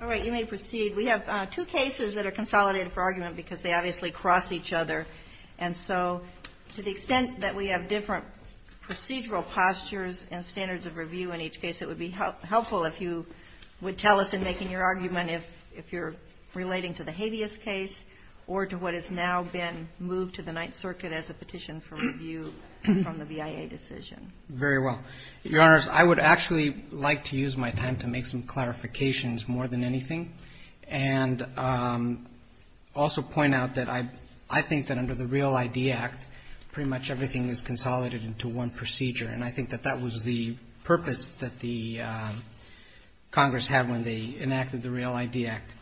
All right, you may proceed. We have two cases that are consolidated for argument because they obviously cross each other. And so, to the extent that we have different procedural postures and standards of review in each case, it would be helpful if you would tell us in making your argument if you're relating to the Habeas case or to what has now been moved to the Ninth Circuit as a petition for review from the BIA decision. Very well. Your Honors, I would actually like to use my time to make some clarifications more than anything, and also point out that I think that under the REAL-ID Act, pretty much everything is consolidated into one procedure. And I think that that was the purpose that the Congress had when they enacted the REAL-ID Act.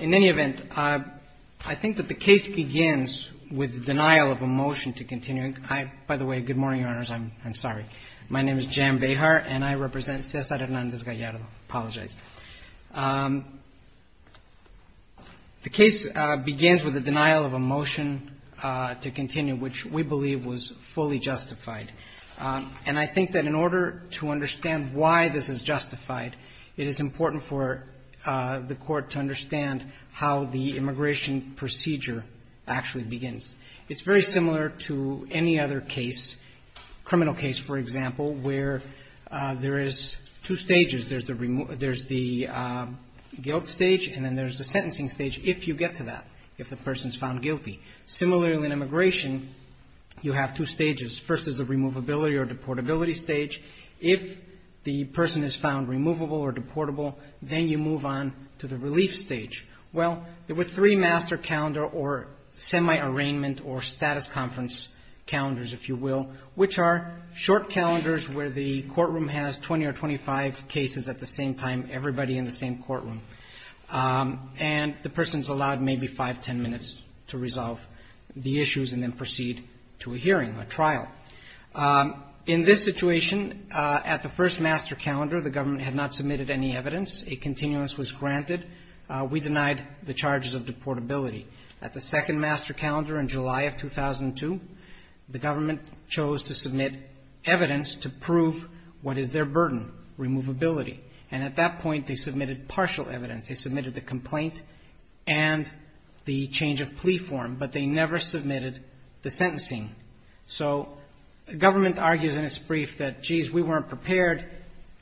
In any event, I think that the case begins with denial of a motion to continue. I, by the way, good morning, Your Honors. I'm sorry. My name is Jan Behar, and I represent Cesar Hernandez-Gallardo. I apologize. The case begins with a denial of a motion to continue, which we believe was fully justified. And I think that in order to understand why this is justified, it is important for the Court to understand how the immigration procedure actually begins. It's very similar to any other case, criminal case, for example, where there is two stages. There's the guilt stage, and then there's the sentencing stage, if you get to that, if the person is found guilty. Similarly in immigration, you have two stages. First is the removability or deportability stage. If the person is found removable or deportable, then you move on to the relief stage. Well, there were three master calendar or semi-arraignment or status conference calendars, if you will, which are short calendars where the courtroom has 20 or 25 cases at the same time, everybody in the same courtroom. And the person's allowed maybe 5, 10 minutes to resolve the issues and then proceed to a hearing, a trial. In this situation, at the first master calendar, the government had not submitted any evidence. A continuous was granted. We denied the charges of deportability. At the second master calendar in July of 2002, the government chose to submit evidence to prove what is their burden, removability. And at that point, they submitted partial evidence. They submitted the complaint and the change of plea form, but they never submitted the sentencing. So the government argues in its brief that, geez, we weren't prepared.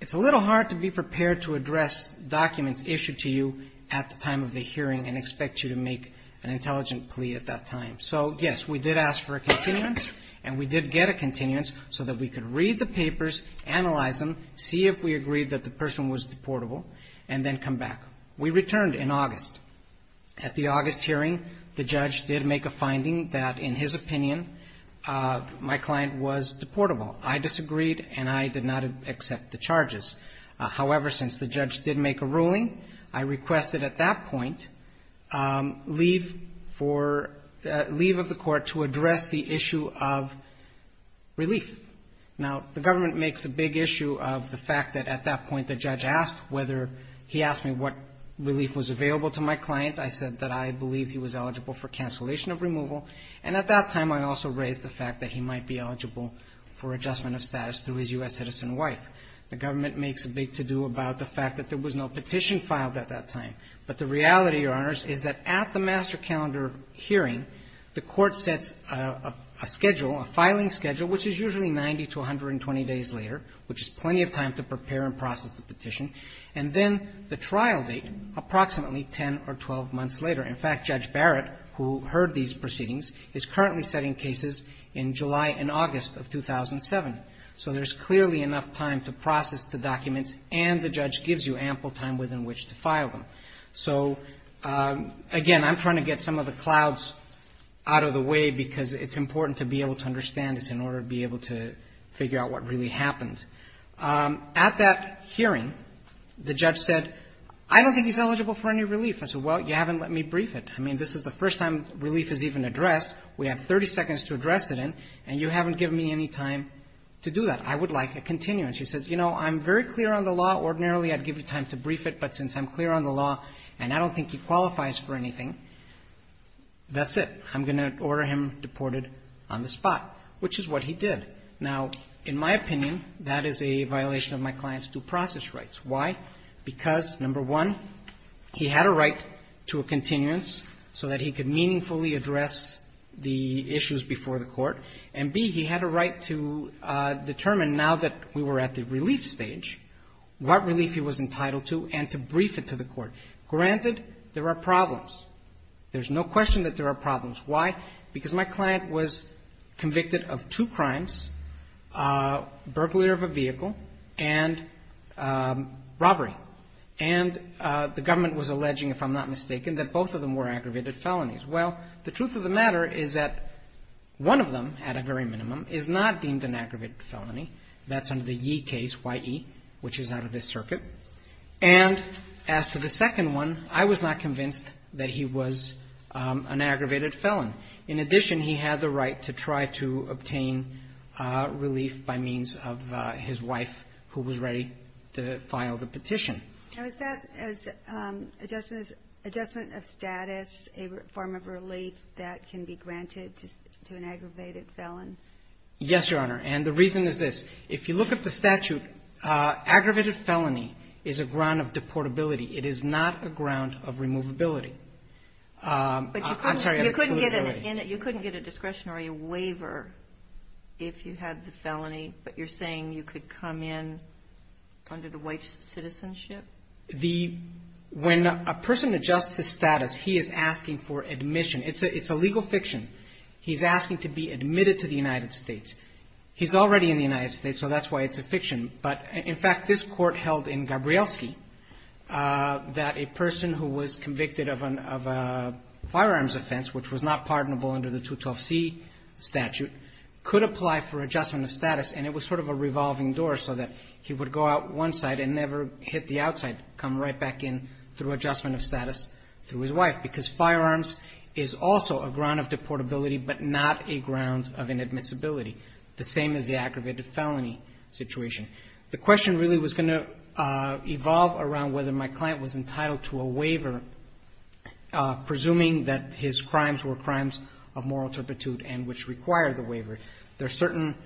It's a little hard to be prepared to address documents issued to you at the time of the hearing and expect you to make an intelligent plea at that time. So, yes, we did ask for a continuance, and we did get a continuance so that we could read the papers, analyze them, see if we agreed that the person was deportable, and then come back. We returned in August. At the August hearing, the judge did make a finding that, in his opinion, my client was deportable. I disagreed, and I did not accept the charges. However, since the judge did make a ruling, I requested at that point leave for the leave of the court to address the issue of relief. Now, the government makes a big issue of the fact that at that point the judge asked whether he asked me what relief was available to my client. I said that I believed he was eligible for cancellation of removal, and at that time I also raised the fact that he might be eligible for adjustment of status through his U.S. citizen wife. The government makes a big to-do about the fact that there was no petition filed at that time. But the reality, Your Honors, is that at the master calendar hearing, the court sets a schedule, a filing schedule, which is usually 90 to 120 days later, which is plenty of time to prepare and process the petition, and then the trial date, approximately 10 or 12 months later. In fact, Judge Barrett, who heard these proceedings, is currently setting cases in July and August of 2007. So there's clearly enough time to process the documents, and the judge gives you ample time within which to file them. So, again, I'm trying to get some of the clouds out of the way, because it's important to be able to understand this in order to be consistent. At that hearing, the judge said, I don't think he's eligible for any relief. I said, well, you haven't let me brief it. I mean, this is the first time relief is even addressed. We have 30 seconds to address it, and you haven't given me any time to do that. I would like a continuance. He said, you know, I'm very clear on the law. Ordinarily, I'd give you time to brief it, but since I'm clear on the law and I don't think he qualifies for anything, that's it. I'm going to order him that is a violation of my client's due process rights. Why? Because, number one, he had a right to a continuance so that he could meaningfully address the issues before the court. And, B, he had a right to determine, now that we were at the relief stage, what relief he was entitled to and to brief it to the court. Granted, there are problems. There's no question that there are problems. Why? Because my client was convicted of two crimes, burglary of a vehicle and robbery. And the government was alleging, if I'm not mistaken, that both of them were aggravated felonies. Well, the truth of the matter is that one of them, at a very minimum, is not deemed an aggravated felony. That's under the Yee case, Y-E, which is out of this circuit. And as for the second one, I was not convinced that he was an aggravated felon. In addition, he had the right to try to obtain relief by means of his wife who was ready to file the petition. Now, is that as adjustment of status a form of relief that can be granted to an aggravated felon? Yes, Your Honor. And the reason is this. If you look at the statute, aggravated felony is a ground of deportability. It is not a ground of removability. But you couldn't get an in it. You couldn't get a discretionary waiver if you had the felony, but you're saying you could come in under the wife's citizenship? The – when a person adjusts his status, he is asking for admission. It's a legal fiction. He's asking to be admitted to the United States. He's already in the United States, so that's why it's a fiction. But, in fact, this Court held in Gabrielski that a person who was convicted of a firearms offense, which was not pardonable under the 212C statute, could apply for adjustment of status, and it was sort of a revolving door so that he would go out one side and never hit the outside, come right back in through adjustment of status through his wife, because firearms is also a ground of deportability but not a ground of inadmissibility, the same as the aggravated felony situation. The question really was going to evolve around whether my client was entitled to a waiver presuming that his crimes were crimes of moral turpitude and which require the waiver. There's certain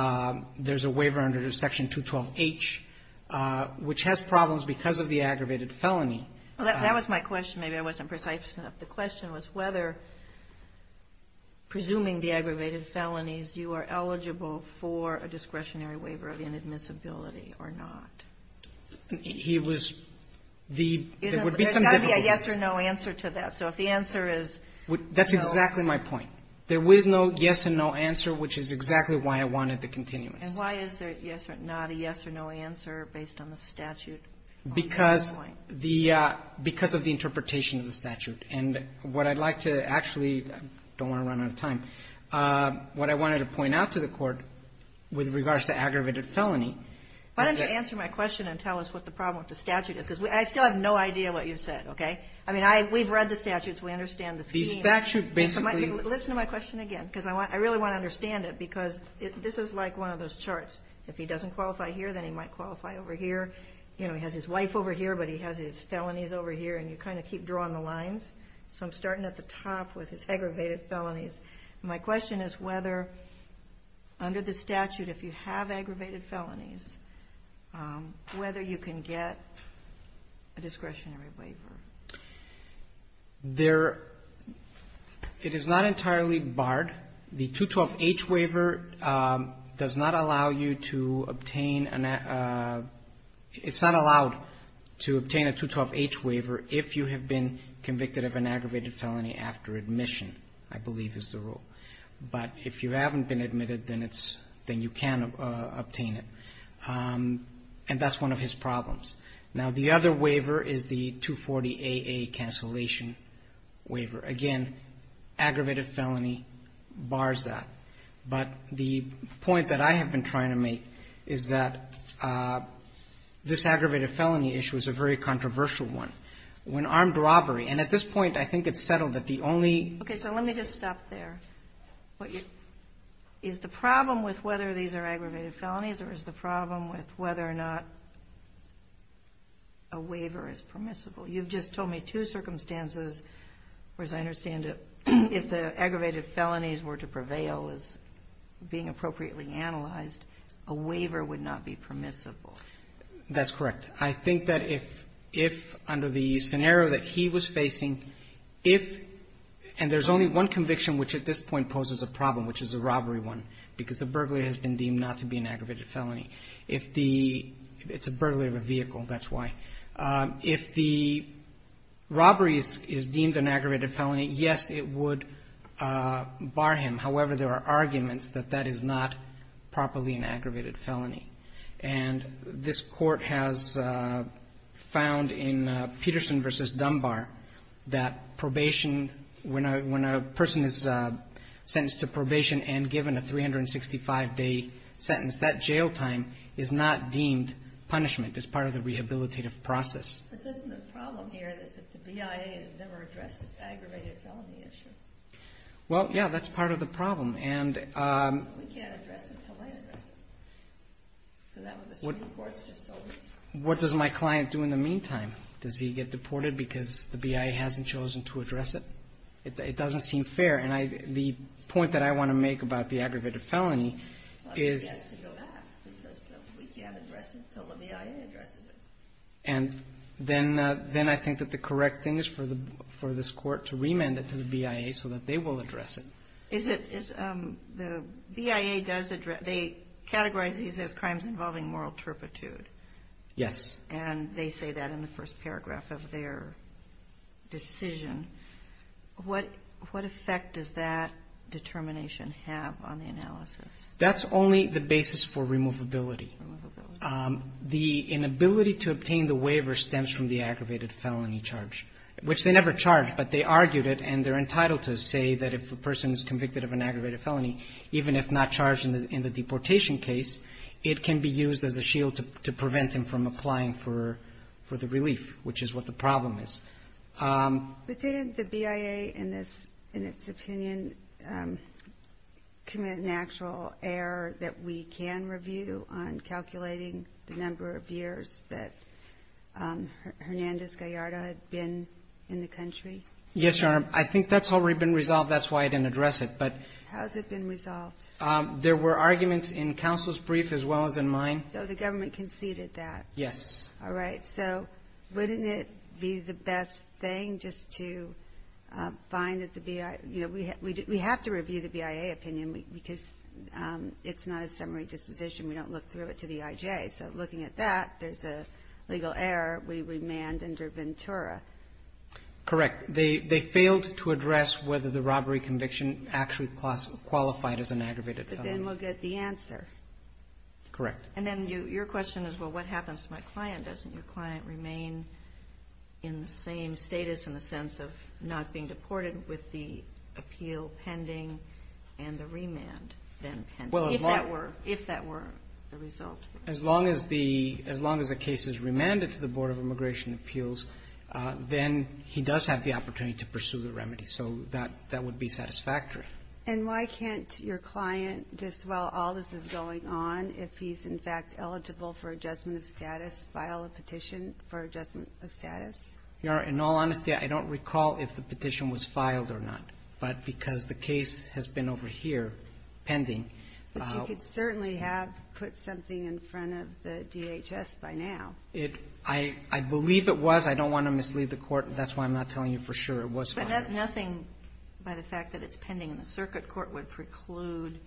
– there's a waiver under Section 212H which has problems because of the aggravated felony. Well, that was my question. Maybe I wasn't precise enough. The question was whether, presuming the aggravated felonies, you are eligible for a discretionary waiver of inadmissibility or not. He was the – there would be some difficulties. There's got to be a yes or no answer to that. So if the answer is no. That's exactly my point. There was no yes and no answer, which is exactly why I wanted the continuous. And why is there not a yes or no answer based on the statute? Because the – because of the interpretation of the statute. And what I'd like to actually – I don't want to run out of time. What I wanted to point out to the Court with regards to aggravated felony is that – Why don't you answer my question and tell us what the problem with the statute is, because I still have no idea what you said, okay? I mean, I – we've read the statutes. We understand the scheme. The statute basically – Listen to my question again, because I want – I really want to understand it, because this is like one of those charts. If he doesn't qualify here, then he might qualify over here. You know, he has his wife over here, but he has his felonies over here. And you kind of keep drawing the lines. So I'm starting at the top with his aggravated felonies. My question is whether, under the statute, if you have aggravated felonies, whether you can get a discretionary waiver. There – it is not entirely barred. The 212H waiver does not allow you to obtain – it's not allowed to obtain a 212H waiver if you have been convicted of an aggravated felony after admission, I believe is the rule. But if you haven't been admitted, then it's – then you can obtain it. And that's one of his problems. Now, the other waiver is the 240AA cancellation waiver. Again, aggravated felony bars that. But the point that I have been trying to make is that this aggravated felony issue is a very controversial one. When armed robbery – and at this point, I think it's settled that the only. Okay. So let me just stop there. Is the problem with whether these are aggravated felonies or is the problem with whether or not a waiver is permissible? You've just told me two circumstances where, as I understand it, if the aggravated felonies were to prevail as being appropriately analyzed, a waiver would not be permissible. That's correct. I think that if, under the scenario that he was facing, if – and there's only one conviction which at this point poses a problem, which is a robbery one, because the burglar has been deemed not to be an aggravated felony. If the – it's a burglar of a vehicle, that's why. If the robbery is deemed an aggravated felony, yes, it would bar him. However, there are arguments that that is not properly an aggravated felony. And this Court has found in Peterson v. Dunbar that probation – when a – when a person is sentenced to probation and given a 365-day sentence, that jail time is not deemed punishment as part of the rehabilitative process. But isn't the problem here is that the BIA has never addressed this aggravated felony issue? Well, yeah. That's part of the problem. We can't address it until they address it. So that's what the Supreme Court has just told us. What does my client do in the meantime? Does he get deported because the BIA hasn't chosen to address it? It doesn't seem fair. And I – the point that I want to make about the aggravated felony is – He has to go back because we can't address it until the BIA addresses it. And then I think that the correct thing is for this Court to remand it to the BIA so that they will address it. Is it – is – the BIA does address – they categorize these as crimes involving moral turpitude. Yes. And they say that in the first paragraph of their decision. What – what effect does that determination have on the analysis? That's only the basis for removability. Removability. The inability to obtain the waiver stems from the aggravated felony charge, which they never charged. But they argued it, and they're entitled to say that if a person is convicted of an aggravated felony, even if not charged in the deportation case, it can be used as a shield to prevent them from applying for the relief, which is what the problem is. But didn't the BIA in this – in its opinion commit an actual error that we can review on calculating the number of years that Hernandez-Gallardo had been in the country? Yes, Your Honor. I think that's already been resolved. That's why I didn't address it. But – How has it been resolved? There were arguments in counsel's brief as well as in mine. So the government conceded that? Yes. All right. So wouldn't it be the best thing just to find that the BIA – you know, we have to review the BIA opinion because it's not a summary disposition. We don't look through it to the IJ. So looking at that, there's a legal error. We remand under Ventura. Correct. They failed to address whether the robbery conviction actually qualified as an aggravated felony. But then we'll get the answer. Correct. And then your question is, well, what happens to my client? Doesn't your client remain in the same status in the sense of not being deported with the appeal pending and the remand then pending? If that were the result. As long as the case is remanded to the Board of Immigration Appeals, then he does have the opportunity to pursue the remedy. So that would be satisfactory. And why can't your client, just while all this is going on, if he's, in fact, eligible for adjustment of status, file a petition for adjustment of status? Your Honor, in all honesty, I don't recall if the petition was filed or not. But because the case has been over here pending. But you could certainly have put something in front of the DHS by now. I believe it was. I don't want to mislead the Court. That's why I'm not telling you for sure it was filed. But nothing by the fact that it's pending in the circuit court would preclude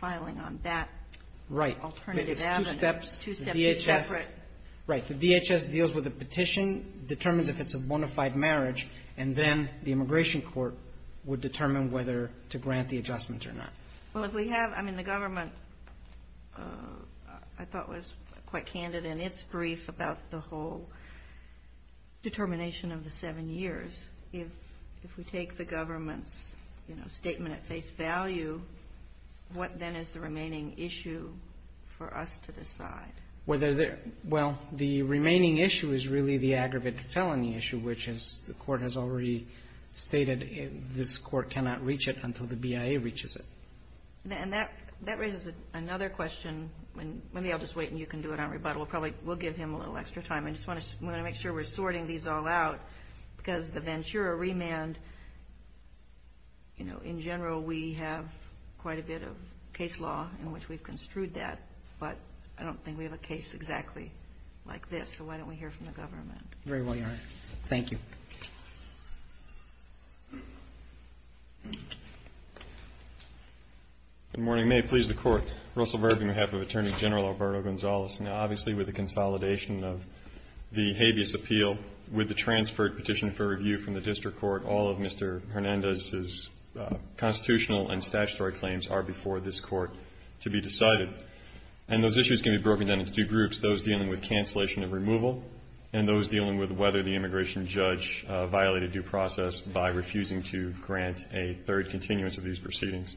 filing on that alternative avenue. Right. But it's two steps. Two steps separate. Right. The DHS deals with a petition, determines if it's a bona fide marriage, and then the immigration court would determine whether to grant the adjustment or not. Well, if we have, I mean, the government, I thought, was quite candid in its brief about the whole determination of the seven years. If we take the government's, you know, statement at face value, what then is the remaining issue for us to decide? Whether the — well, the remaining issue is really the aggravated felony issue, which, as the Court has already stated, this Court cannot reach it until the BIA reaches it. And that raises another question. Maybe I'll just wait, and you can do it on rebuttal. Probably we'll give him a little extra time. I just want to make sure we're sorting these all out, because the Ventura remand, you know, in general, we have quite a bit of case law in which we've construed that. But I don't think we have a case exactly like this. So why don't we hear from the government? Very well, Your Honor. Thank you. Good morning. May it please the Court. Russell Verby, on behalf of Attorney General Alberto Gonzalez. Now, obviously, with the consolidation of the habeas appeal, with the transferred petition for review from the district court, all of Mr. Hernandez's constitutional and statutory claims are before this Court to be decided. And those issues can be broken down into two groups, those dealing with cancellation and removal, and those dealing with whether the immigration judge violated due process by refusing to grant a third continuance of these proceedings.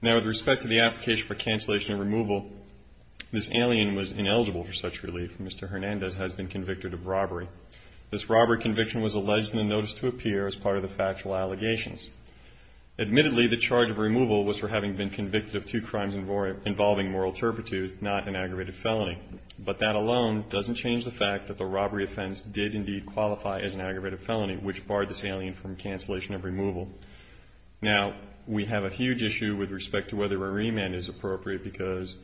Now, with respect to the application for cancellation and removal, this alien was ineligible for such relief. Mr. Hernandez has been convicted of robbery. This robbery conviction was alleged in the notice to appear as part of the factual allegations. Admittedly, the charge of removal was for having been convicted of two crimes involving moral turpitude, not an aggravated felony. But that alone doesn't change the fact that the robbery offense did indeed qualify as an aggravated felony, which barred this alien from cancellation of removal. Now, we have a huge issue with respect to whether a remand is appropriate because,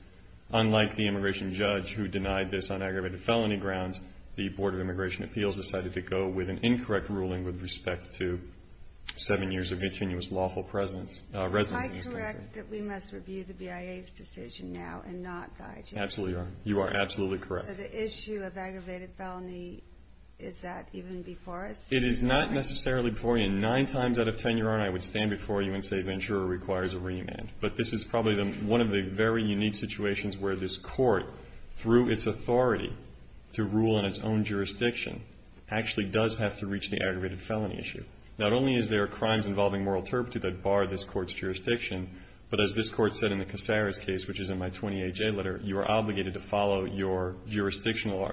unlike the immigration judge who denied this on aggravated felony grounds, the Board of Immigration Appeals decided to go with an incorrect ruling with respect to seven years of continuous lawful residence. Am I correct that we must review the BIA's decision now and not the IGF's? Absolutely, Your Honor. You are absolutely correct. So the issue of aggravated felony, is that even before us? It is not necessarily before you, and nine times out of ten, Your Honor, I would stand before you and say Ventura requires a remand. But this is probably one of the very unique situations where this court, through its authority to rule in its own jurisdiction, actually does have to reach the aggravated felony issue. Not only is there crimes involving moral turpitude that bar this court's jurisdiction, but as this court said in the Casares case, which is in my 20HA letter, you are obligated to follow your jurisdictional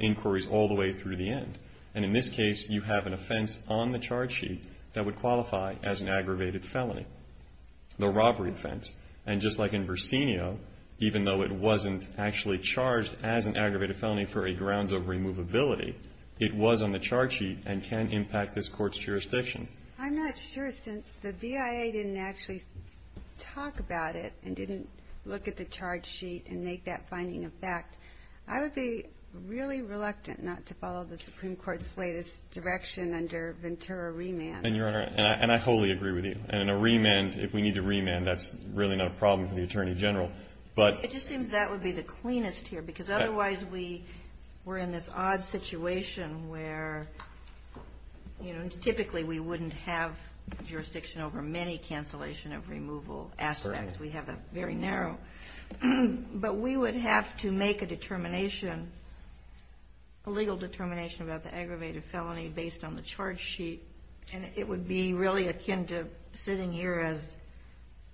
inquiries all the way through the end. And in this case, you have an offense on the charge sheet that would qualify as an aggravated felony, the robbery offense. And just like in Brasenio, even though it wasn't actually charged as an aggravated felony for a grounds of removability, it was on the charge sheet and can impact this court's jurisdiction. I'm not sure, since the BIA didn't actually talk about it and didn't look at the charge sheet and make that finding a fact, I would be really reluctant not to follow the Supreme Court's latest direction under Ventura remand. And, Your Honor, and I wholly agree with you. And in a remand, if we need to remand, that's really not a problem for the Attorney General. But ---- It just seems that would be the cleanest here, because otherwise we were in this odd situation where, you know, typically we wouldn't have jurisdiction over many cancellation of removal aspects. We have a very narrow. But we would have to make a determination, a legal determination about the aggravated felony based on the charge sheet. And it would be really akin to sitting here as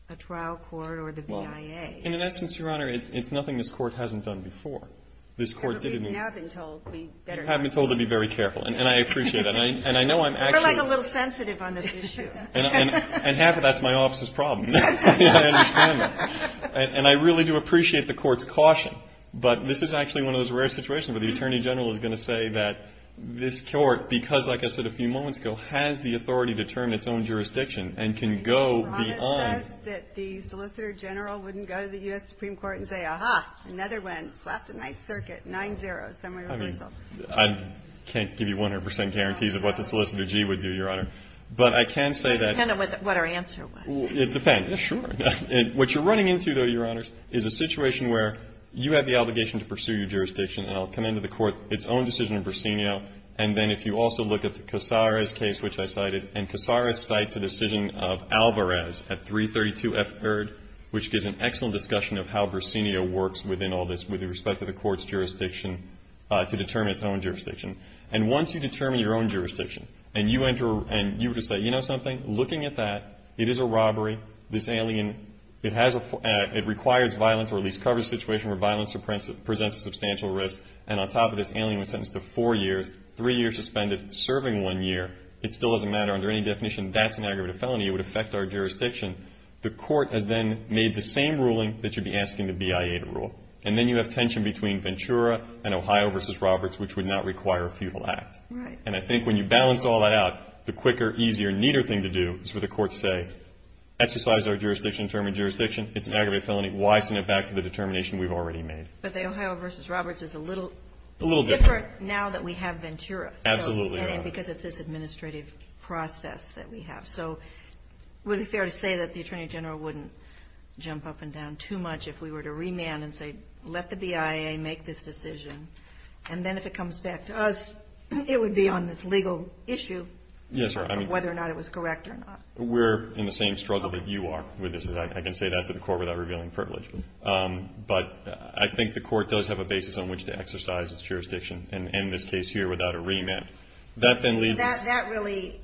a trial court or the BIA. And in essence, Your Honor, it's nothing this court hasn't done before. This court didn't ---- We've now been told we better not. Have been told to be very careful. And I appreciate that. And I know I'm actually ---- We're, like, a little sensitive on this issue. And half of that's my office's problem. I understand that. And I really do appreciate the Court's caution. But this is actually one of those rare situations where the Attorney General is going to say that this Court, because, like I said a few moments ago, has the authority to determine its own jurisdiction and can go beyond ---- Your Honor says that the Solicitor General wouldn't go to the U.S. Supreme Court and say, aha, another one, slap the Ninth Circuit, 9-0, summary reversal. I mean, I can't give you 100 percent guarantees of what the Solicitor G would do, Your Honor. But I can say that ---- It would depend on what our answer was. It depends. Yeah, sure. What you're running into, though, Your Honors, is a situation where you have the obligation to pursue your jurisdiction. And I'll come into the Court, its own decision in Brasenio. And then if you also look at the Casares case, which I cited, and Casares cites a decision of Alvarez at 332F3rd, which gives an excellent discussion of how Brasenio works within all this with respect to the Court's jurisdiction to determine its own jurisdiction. And once you determine your own jurisdiction and you enter and you decide, you know something, looking at that, it is a robbery. This alien, it has a ---- it requires violence or at least covers a situation where violence presents a substantial risk. And on top of this, the alien was sentenced to four years, three years suspended, serving one year. It still doesn't matter. Under any definition, that's an aggravated felony. It would affect our jurisdiction. The Court has then made the same ruling that you'd be asking the BIA to rule. And then you have tension between Ventura and Ohio v. Roberts, which would not require a feudal act. Right. And I think when you balance all that out, the quicker, easier, neater thing to do is for the Court to say, exercise our jurisdiction, determine jurisdiction. It's an aggravated felony. Why send it back to the determination we've already made? But the Ohio v. Roberts is a little different now that we have Ventura. Absolutely. And because it's this administrative process that we have. So would it be fair to say that the Attorney General wouldn't jump up and down too much if we were to remand and say, let the BIA make this decision. And then if it comes back to us, it would be on this legal issue. Yes, Your Honor. Whether or not it was correct or not. We're in the same struggle that you are with this. I can say that to the Court without revealing privilege. But I think the Court does have a basis on which to exercise its jurisdiction and end this case here without a remand. That then leaves us. That really,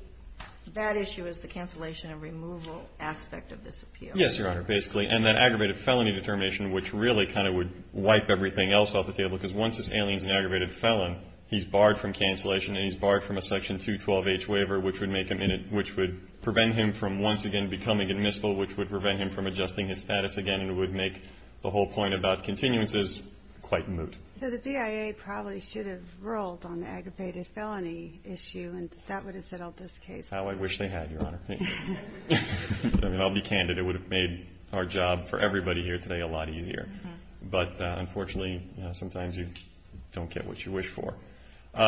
that issue is the cancellation and removal aspect of this appeal. Yes, Your Honor, basically. And that aggravated felony determination, which really kind of would wipe everything else off the table. Because once this alien is an aggravated felon, he's barred from cancellation and he's barred from a Section 212H waiver, which would make him, which would prevent him from once again becoming admissible, which would prevent him from adjusting his status again and would make the whole point about continuances quite moot. So the BIA probably should have rolled on the aggravated felony issue and that would have settled this case. How I wish they had, Your Honor. I'll be candid. It would have made our job for everybody here today a lot easier. But, unfortunately, sometimes you don't get what you wish for.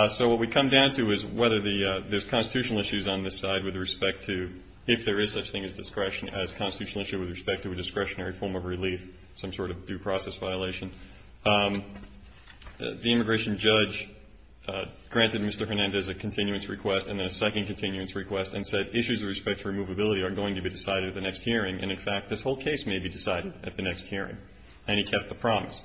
So what we come down to is whether there's constitutional issues on this side with respect to if there is such thing as discretion, as constitutional issue with respect to a discretionary form of relief, some sort of due process violation. The immigration judge granted Mr. Hernandez a continuance request and a second continuance request and said issues with respect to removability are going to be decided at the next hearing. And, in fact, this whole case may be decided at the next hearing. And he kept the promise.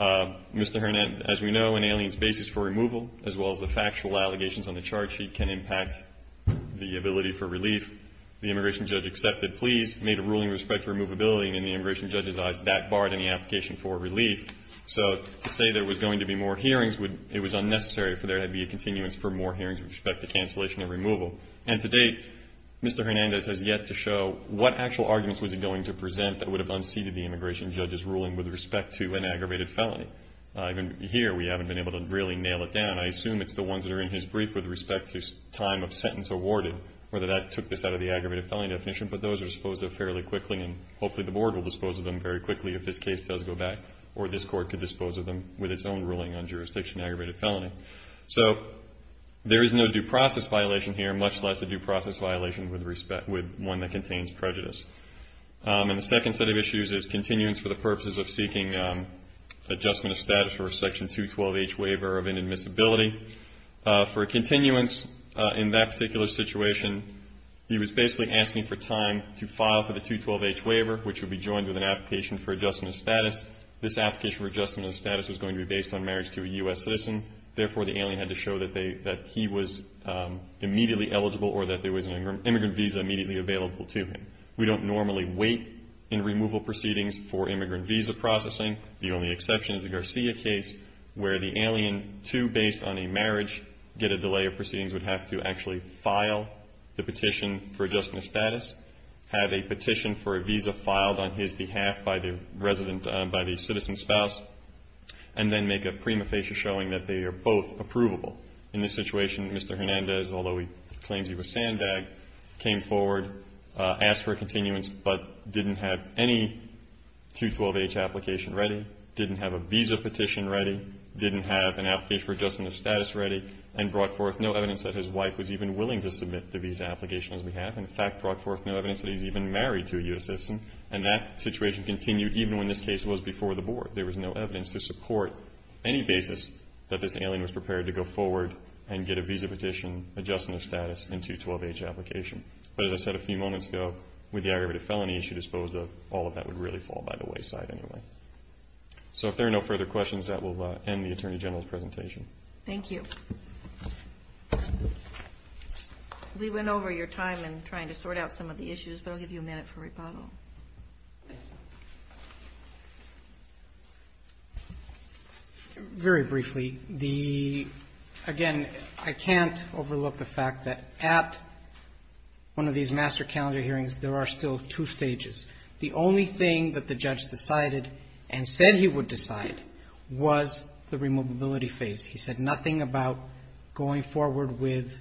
Mr. Hernandez, as we know, an alien's basis for removal, as well as the factual allegations on the charge sheet, can impact the ability for relief. The immigration judge accepted pleas, made a ruling with respect to removability, and in the immigration judge's eyes that barred any application for relief. So to say there was going to be more hearings, it was unnecessary, for there had to be a continuance for more hearings with respect to cancellation and removal. And to date, Mr. Hernandez has yet to show what actual arguments was he going to use in the immigration judge's ruling with respect to an aggravated felony. Even here, we haven't been able to really nail it down. I assume it's the ones that are in his brief with respect to time of sentence awarded, whether that took this out of the aggravated felony definition. But those are disposed of fairly quickly, and hopefully the Board will dispose of them very quickly if this case does go back, or this Court could dispose of them with its own ruling on jurisdiction aggravated felony. So there is no due process violation here, much less a due process violation with one that contains prejudice. And the second set of issues is continuance for the purposes of seeking adjustment of status for a Section 212H waiver of inadmissibility. For a continuance in that particular situation, he was basically asking for time to file for the 212H waiver, which would be joined with an application for adjustment of status. This application for adjustment of status was going to be based on marriage to a U.S. citizen. Therefore, the alien had to show that he was immediately eligible, or that there was an immigrant visa immediately available to him. We don't normally wait in removal proceedings for immigrant visa processing. The only exception is the Garcia case where the alien, too, based on a marriage, get a delay of proceedings would have to actually file the petition for adjustment of status, have a petition for a visa filed on his behalf by the resident, by the citizen's spouse, and then make a prima facie showing that they are both approvable. In this situation, Mr. Hernandez, although he claims he was sandbagged, came forward, asked for a continuance, but didn't have any 212H application ready, didn't have a visa petition ready, didn't have an application for adjustment of status ready, and brought forth no evidence that his wife was even willing to submit the visa application on his behalf. In fact, brought forth no evidence that he was even married to a U.S. citizen, and that situation continued even when this case was before the Board. There was no evidence to support any basis that this alien was prepared to go forward and get a visa petition, adjustment of status, and 212H application. But as I said a few moments ago, with the aggravated felony issue disposed of, all of that would really fall by the wayside anyway. So if there are no further questions, that will end the Attorney General's presentation. Thank you. We went over your time in trying to sort out some of the issues, but I'll give you a minute for rebuttal. Very briefly, the, again, I can't overlook the fact that at one of these master calendar hearings, there are still two stages. The only thing that the judge decided and said he would decide was the removability phase. He said nothing about going forward with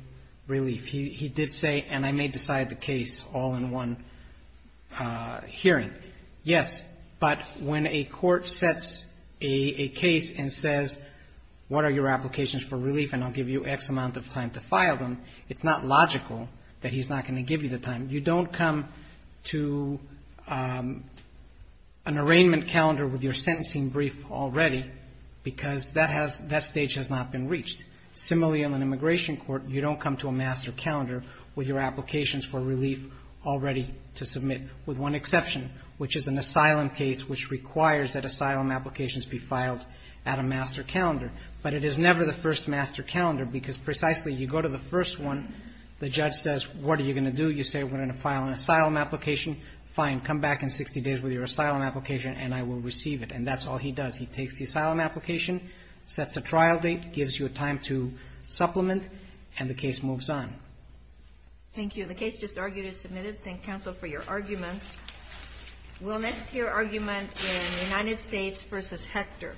relief. He did say, and I may decide the case all in one hearing. Yes, but when a court sets a case and says, what are your applications for relief, and I'll give you X amount of time to file them, it's not logical that he's not going to give you the time. You don't come to an arraignment calendar with your sentencing brief already because that has, that stage has not been reached. Similarly, on an immigration court, you don't come to a master calendar with your applications for relief already to submit, with one exception, which is an asylum case, which requires that asylum applications be filed at a master calendar. But it is never the first master calendar because precisely, you go to the first one, the judge says, what are you going to do? You say, we're going to file an asylum application. Fine, come back in 60 days with your asylum application, and I will receive it. And that's all he does. He takes the asylum application, sets a trial date, gives you a time to supplement, and the case moves on. Thank you. The case just argued is submitted. Thank counsel for your arguments. We'll next hear argument in United States v. Hector.